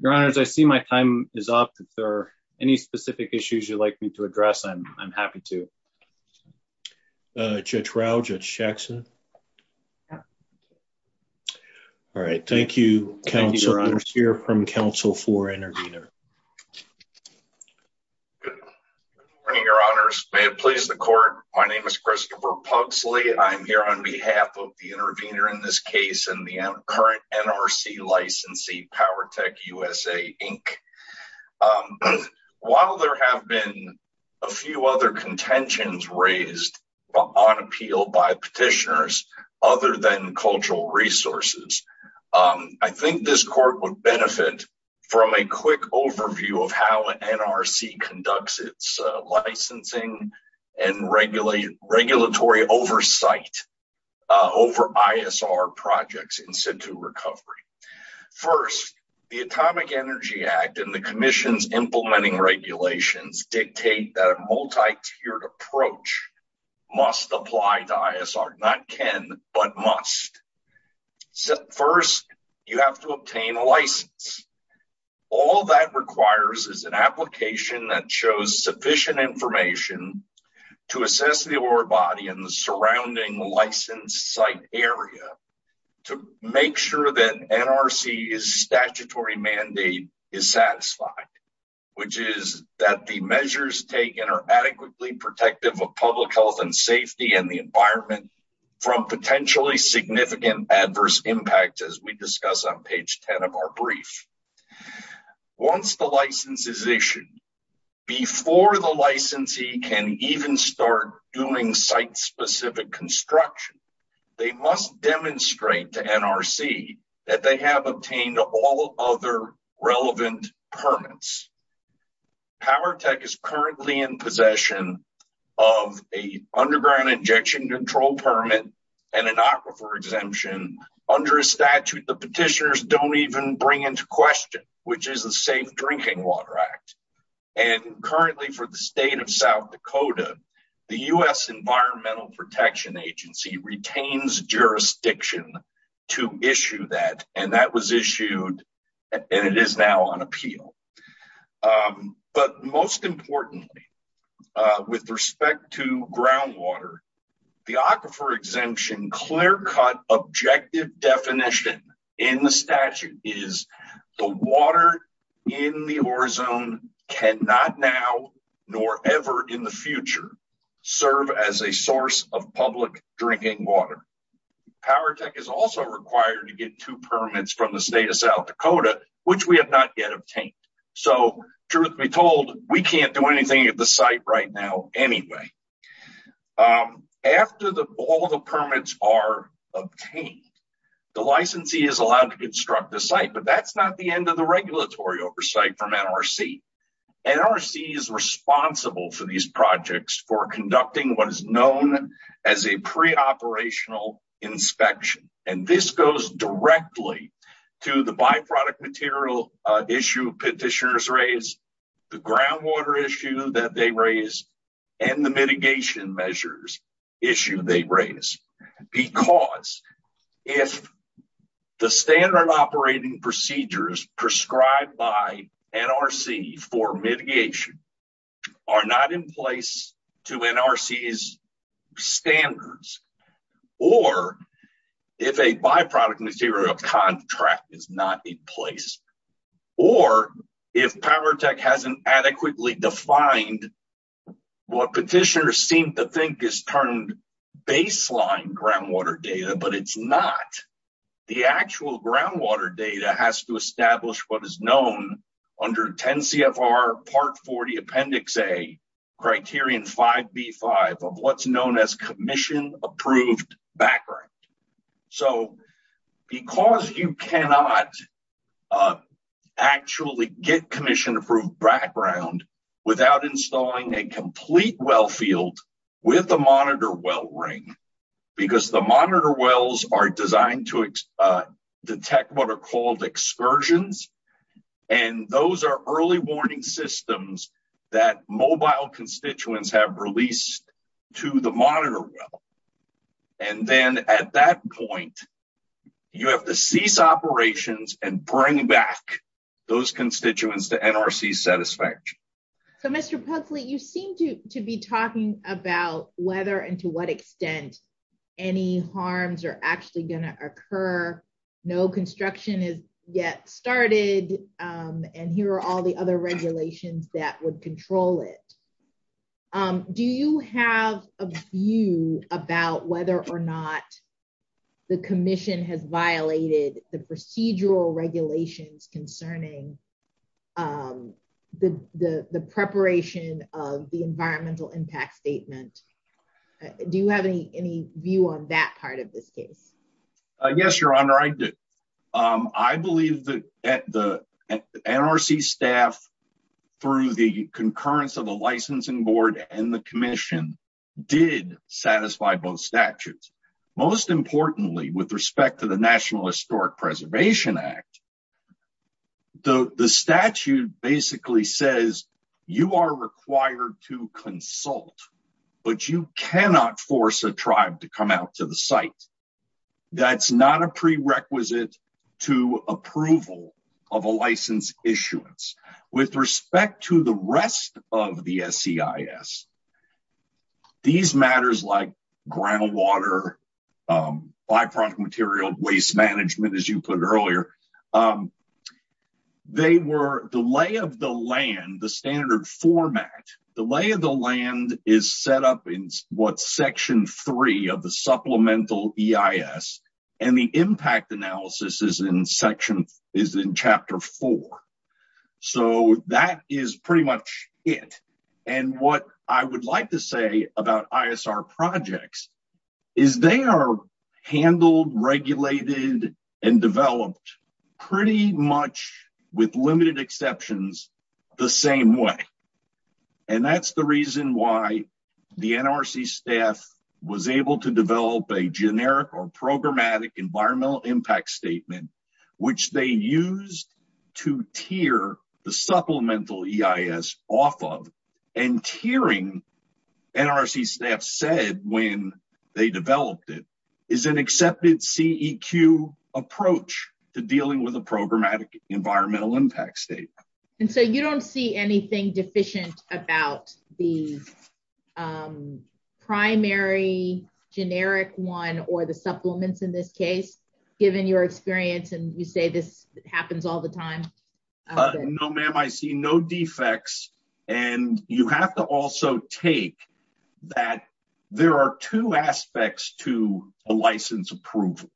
your honors I see my time is up if there are any specific issues you'd like me to address I'm I'm happy to uh Judge Rao, Judge Jackson yeah all right thank you council here from council for intervener good morning your honors may it please the court my name is Christopher Pugsley I'm here on behalf of the intervener in this case and the current NRC licensee Powertech USA Inc. um while there have been a few other contentions raised on appeal by petitioners other than cultural resources um I think this court would benefit from a quick overview of how NRC conducts its licensing and regulation regulatory oversight uh over ISR projects in recovery first the atomic energy act and the commission's implementing regulations dictate that a multi-tiered approach must apply to ISR not can but must so first you have to obtain a license all that requires is an application that shows sufficient information to assess the award in the surrounding license site area to make sure that NRC's statutory mandate is satisfied which is that the measures taken are adequately protective of public health and safety and the environment from potentially significant adverse impacts as we discuss on page 10 of our brief once the license is issued before the licensee can even start doing site-specific construction they must demonstrate to NRC that they have obtained all other relevant permits Powertech is currently in possession of a underground injection control permit and an aquifer exemption under a statute the petitioners don't even bring into question which is a safe drinking water act and currently for the state of South Dakota the U.S. Environmental Protection Agency retains jurisdiction to issue that and that was issued and it is now on appeal but most importantly with respect to groundwater the aquifer exemption clear-cut objective definition in the statute is the water in the ore zone cannot now nor ever in the future serve as a source of public drinking water Powertech is also required to get two permits from the state of South Dakota which we have not yet obtained so truth be told we can't do anything at the site right now anyway after the all the permits are obtained the licensee is allowed to construct the site but that's not the end of the regulatory oversight from NRC NRC is responsible for these projects for conducting what is known as a pre-operational inspection and this goes directly to the by-product material issue petitioners raise the groundwater issue that they raise and the mitigation measures issue they raise because if the standard operating procedures prescribed by NRC for mitigation are not in place to NRC's standards or if a by-product material contract is not in place or if Powertech hasn't adequately defined what petitioners seem to think is termed baseline groundwater data but it's not the actual groundwater data has to establish what is known under 10 CFR Part 40 Appendix A criterion 5b5 of what's known as commission approved background so because you cannot actually get commission approved background without installing a complete well field with a monitor well ring because the monitor wells are designed to detect what are called excursions and those are early warning systems that mobile constituents have released to the monitor well and then at that point you have to cease operations and bring back those constituents to NRC's satisfaction. So Mr. Pugsley you seem to to be talking about whether and to what extent any harms are actually going to occur no construction is yet started and here are all the other regulations that would control it. Do you have a view about whether or not the commission has violated the procedural regulations concerning the preparation of the environmental impact statement? Do you have any view on that part of this case? Yes your honor I do. I believe that the NRC staff through the concurrence of the licensing board and the commission did satisfy both statutes most importantly with respect to National Historic Preservation Act. The statute basically says you are required to consult but you cannot force a tribe to come out to the site. That's not a prerequisite to approval of a license issuance. With respect to the rest of the SEIS these matters like groundwater byproduct material waste management as you put earlier they were delay of the land the standard format delay of the land is set up in what section three of the supplemental EIS and the impact analysis is in section is in chapter four. So that is pretty much it and what I would like to say about ISR projects is they are handled regulated and developed pretty much with limited exceptions the same way and that's the reason why the NRC staff was able to develop a generic or programmatic environmental impact statement which they used to tear the supplemental EIS off of and tearing NRC staff said when they developed it is an accepted CEQ approach to dealing with a programmatic environmental impact statement. And so you don't see anything deficient about the primary generic one or the supplements in this case given your experience and you say this happens all the time. No ma'am I see no defects and you have to also take that there are two aspects to a license approval.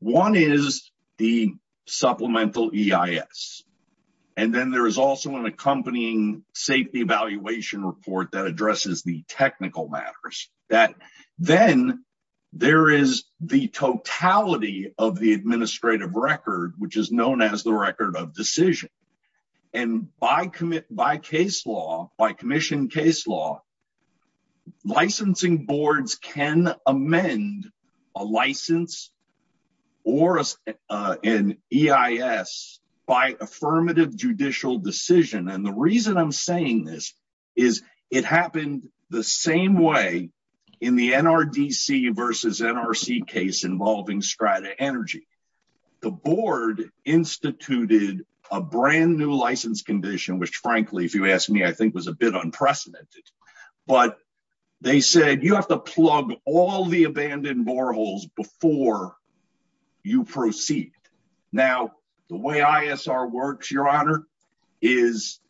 One is the supplemental EIS and then there is also an accompanying safety evaluation report that addresses the technical matters that then there is the totality of the administrative record which is known as the record of decision and by commit by case law by commission case law licensing boards can amend a license or an EIS by affirmative judicial decision and the reason I'm saying this is it happened the same way in the NRDC versus NRC case involving Strata Energy. The board instituted a brand new license condition which frankly if you ask me I think was a bit unprecedented but they said you have to plug all the abandoned boreholes before you proceed. Now the way ISR works your honor is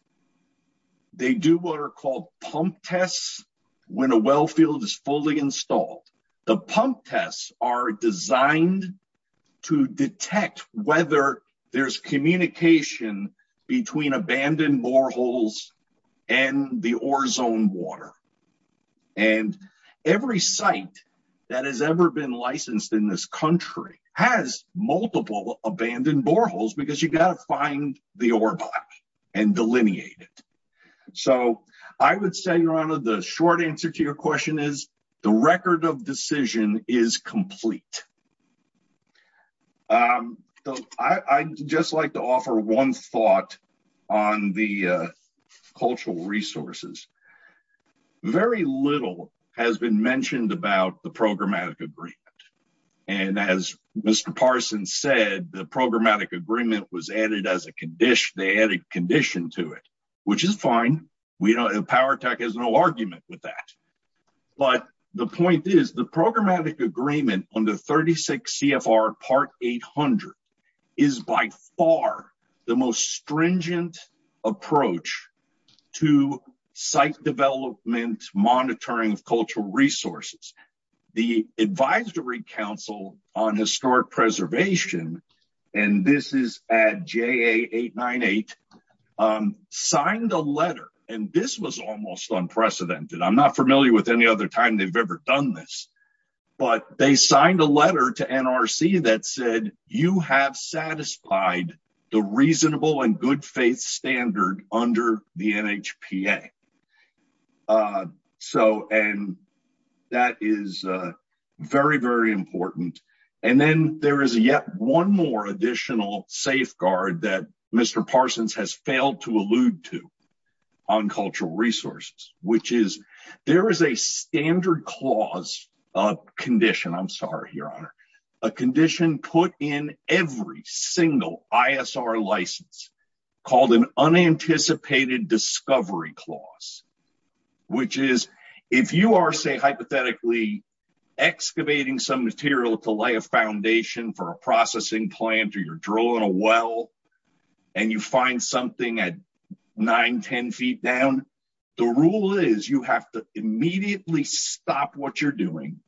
they do what are called pump tests when a well field is fully installed. The pump tests are designed to detect whether there's communication between abandoned boreholes and the ore zone water and every site that has ever been licensed in this country has multiple abandoned boreholes because you got to find the ore block and delineate it. So I would say your honor the short answer to your question is the record of decision is complete. I'd just like to offer one thought on the cultural resources. Very little has been mentioned about the programmatic agreement and as Mr. Parsons said the programmatic agreement was added as a condition. They added condition to it which is fine. We don't have power tech has no argument with that but the point is the programmatic agreement under 36 CFR part 800 is by far the most stringent approach to site development monitoring of cultural resources. The advisory council on historic preservation and this is at JA898 signed a letter and this was almost unprecedented. I'm not familiar with any other time they've ever done this but they signed a letter to NRC that said you have satisfied the reasonable and good faith standard under the NHPA. So and that is very very important and then there is yet one more additional safeguard that Mr. Parsons has failed to allude to on cultural resources which is there is a standard clause of condition. I'm sorry your honor a condition put in every single ISR license called an unanticipated discovery clause which is if you are say hypothetically excavating some material to lay a foundation for a processing plant or you're drilling a well and you find something at nine ten feet down the rule is you have to immediately stop what you're doing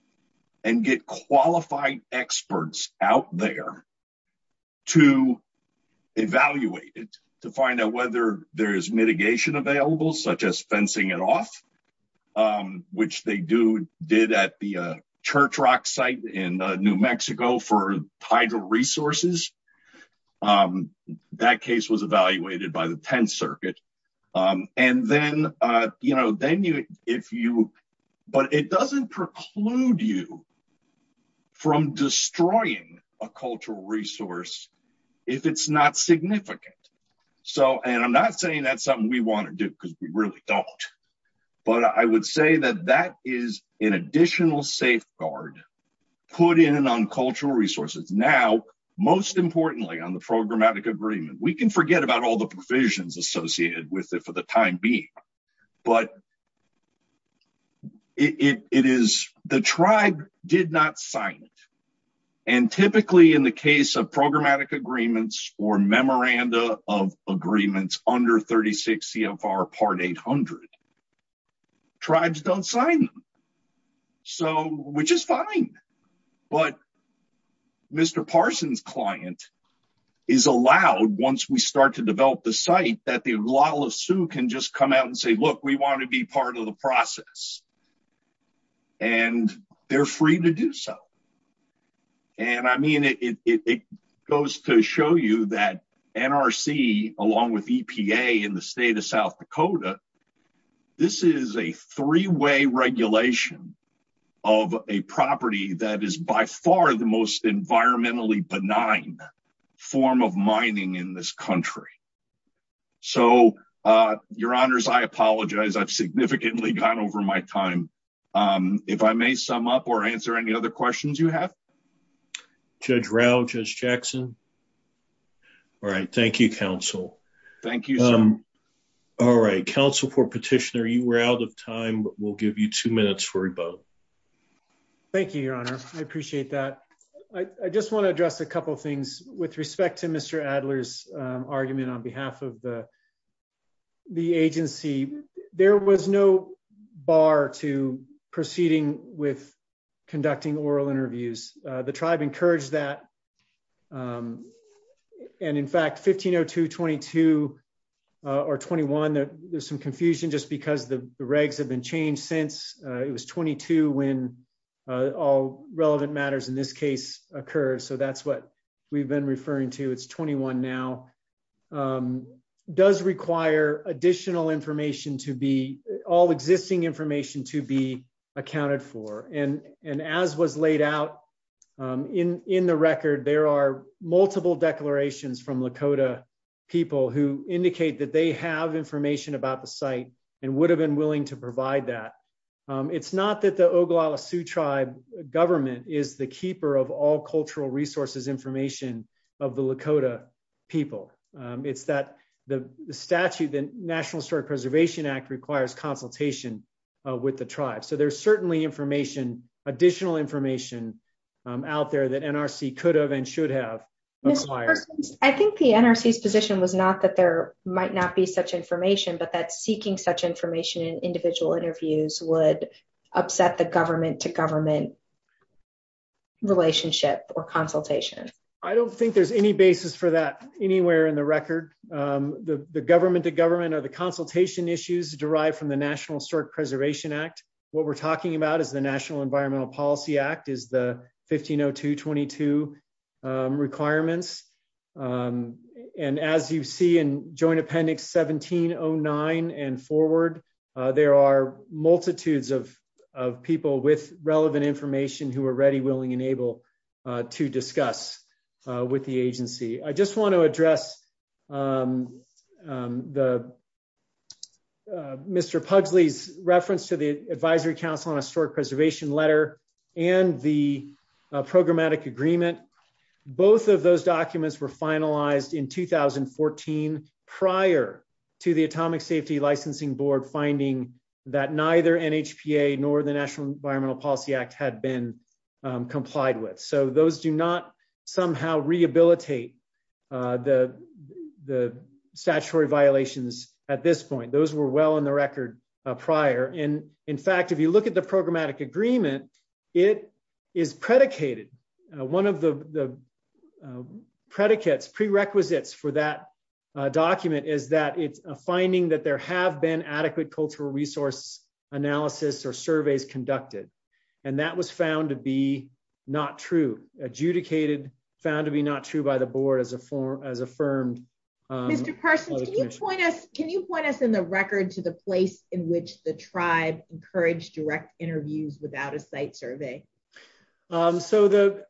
and get qualified experts out there to evaluate it to find out whether there is mitigation available such as fencing it off which they do did at the church rock site in New Mexico for that case was evaluated by the 10th circuit and then you know then you if you but it doesn't preclude you from destroying a cultural resource if it's not significant. So and I'm not saying that's something we want to do because we really don't but I would say that that is an additional safeguard put in and on cultural resources now most importantly on the programmatic agreement we can forget about all the provisions associated with it for the time being but it is the tribe did not sign it and typically in the case of programmatic agreements or memoranda of agreements under 36 CFR part 800 tribes don't sign them so which is fine but Mr. Parson's client is allowed once we start to develop the site that the lawless sue can just come out and say look we want to be part of the process and they're free to do so and I mean it goes to show you that NRC along with EPA in the state of South Dakota this is a three-way regulation of a property that is by far the most environmentally benign form of mining in this country so your honors I apologize I've significantly gone over my time if I may sum up or answer any other questions you have Judge Rao, Judge Jackson all right thank you counsel thank you all right counsel for petitioner you were out of time but we'll give you two minutes for rebuttal thank you your honor I appreciate that I just want to address a couple things with respect to Mr. Adler's argument on behalf of the the agency there was no bar to proceeding with conducting oral interviews the tribe encouraged that and in fact 1502 22 or 21 there's some confusion just because the regs have been changed since it was 22 when all relevant matters in this case occurred so that's what we've been referring to it's 21 now does require additional information to be all existing information to be accounted for and and as was laid out in in the record there are multiple declarations from Lakota people who indicate that they have information about the site and would have been willing to provide that it's not that the Oglala Sioux tribe government is the keeper of all cultural resources information of the Lakota people it's that the statute the National Historic Preservation Act requires consultation with the tribe so there's certainly information additional information out there that NRC could have and should have I think the NRC's position was not that there might not be such information but that seeking such information in individual interviews would upset the government to government relationship or consultation I don't think there's any basis for that anywhere in the record the the government to government are the consultation issues derived from the National Historic Preservation Act what we're talking about is the National Environmental Policy Act is the 1502 22 requirements and as you see in joint appendix 1709 and forward there are multitudes of of people with relevant information who are ready willing and able to discuss with the agency I just want to address the Mr. Pugsley's reference to the Advisory Council on Historic Preservation letter and the programmatic agreement both of those documents were finalized in 2014 prior to the Atomic Safety Licensing Board finding that neither NHPA nor the National Rehabilitate the the statutory violations at this point those were well on the record prior and in fact if you look at the programmatic agreement it is predicated one of the predicates prerequisites for that document is that it's a finding that there have been adequate cultural resource analysis or surveys conducted and that was found to be not true adjudicated found to be not true by the board as a form as affirmed Mr. Parsons can you point us can you point us in the record to the place in which the tribe encouraged direct interviews without a site survey so the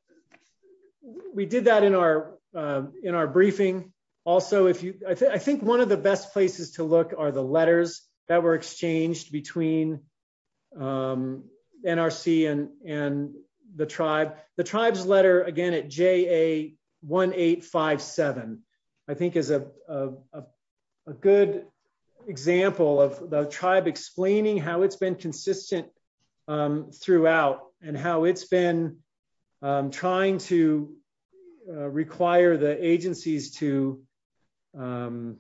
we did that in our in our briefing also if you I think one of the best places to look are the letters that were exchanged between NRC and and the tribe the tribe's letter again JA 1857 I think is a a good example of the tribe explaining how it's been consistent throughout and how it's been trying to require the agencies to come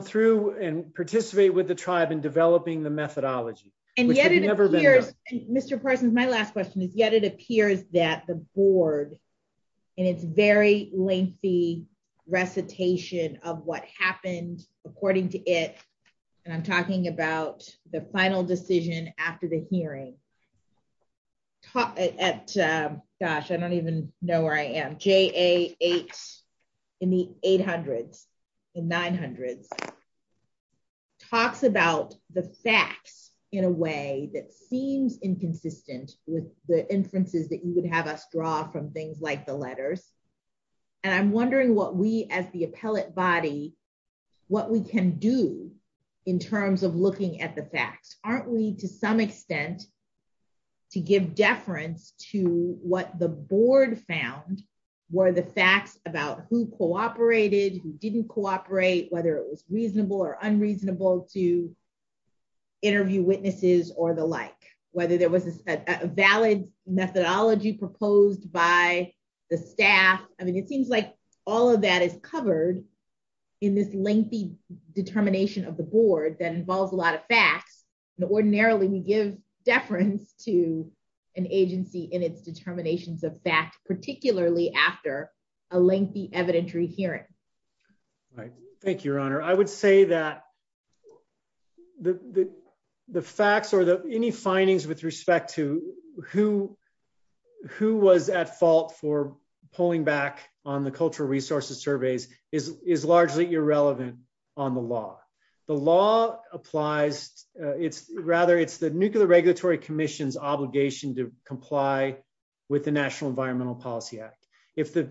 through and participate with the tribe in developing the methodology and yet it appears Mr. Parsons my last question is yet it appears that the board in its very lengthy recitation of what happened according to it and I'm talking about the final decision after the hearing at gosh I don't even know where I am JA 8 in the 800s in 900s talks about the facts in a way that seems inconsistent with the inferences that you would have us draw from things like the letters and I'm wondering what we as the appellate body what we can do in terms of looking at the facts aren't we to some extent to give deference to what the board found were the facts about who cooperated who didn't cooperate whether it was to interview witnesses or the like whether there was a valid methodology proposed by the staff I mean it seems like all of that is covered in this lengthy determination of the board that involves a lot of facts and ordinarily we give deference to an agency in its determinations of fact particularly after a lengthy evidentiary hearing right thank you your honor I would say that the the facts or the any findings with respect to who who was at fault for pulling back on the cultural resources surveys is is largely irrelevant on the law the law applies it's rather it's the nuclear regulatory commission's obligation to comply with the national environmental policy act if the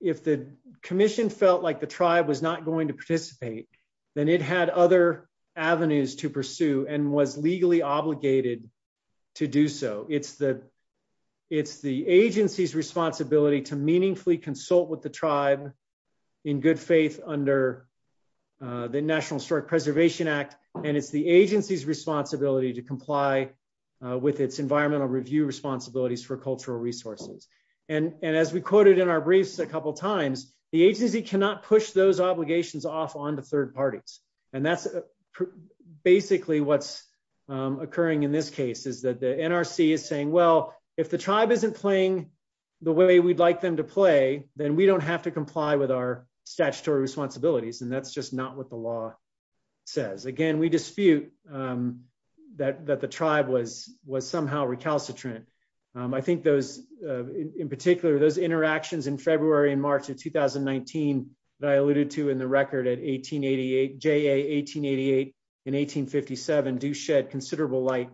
if the commission felt like the tribe was not going to participate then it had other avenues to pursue and was legally obligated to do so it's the it's the agency's responsibility to meaningfully consult with the tribe in good faith under the national historic preservation act and it's the agency's responsibility to comply with its environmental review responsibilities for cultural resources and and as we quoted in our briefs a couple times the agency cannot push those obligations off onto third parties and that's basically what's occurring in this case is that the nrc is saying well if the tribe isn't playing the way we'd like them to play then we don't have to comply with our statutory responsibilities and that's just not what the law says again we dispute that that the tribe was was somehow recalcitrant i think those in particular those interactions in february and march of 2019 that i alluded to in the record at 1888 j a 1888 and 1857 do shed considerable light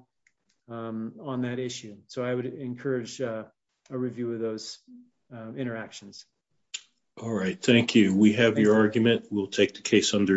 on that issue so i would encourage a review of those interactions all right thank you we have your argument we'll take the case under advisement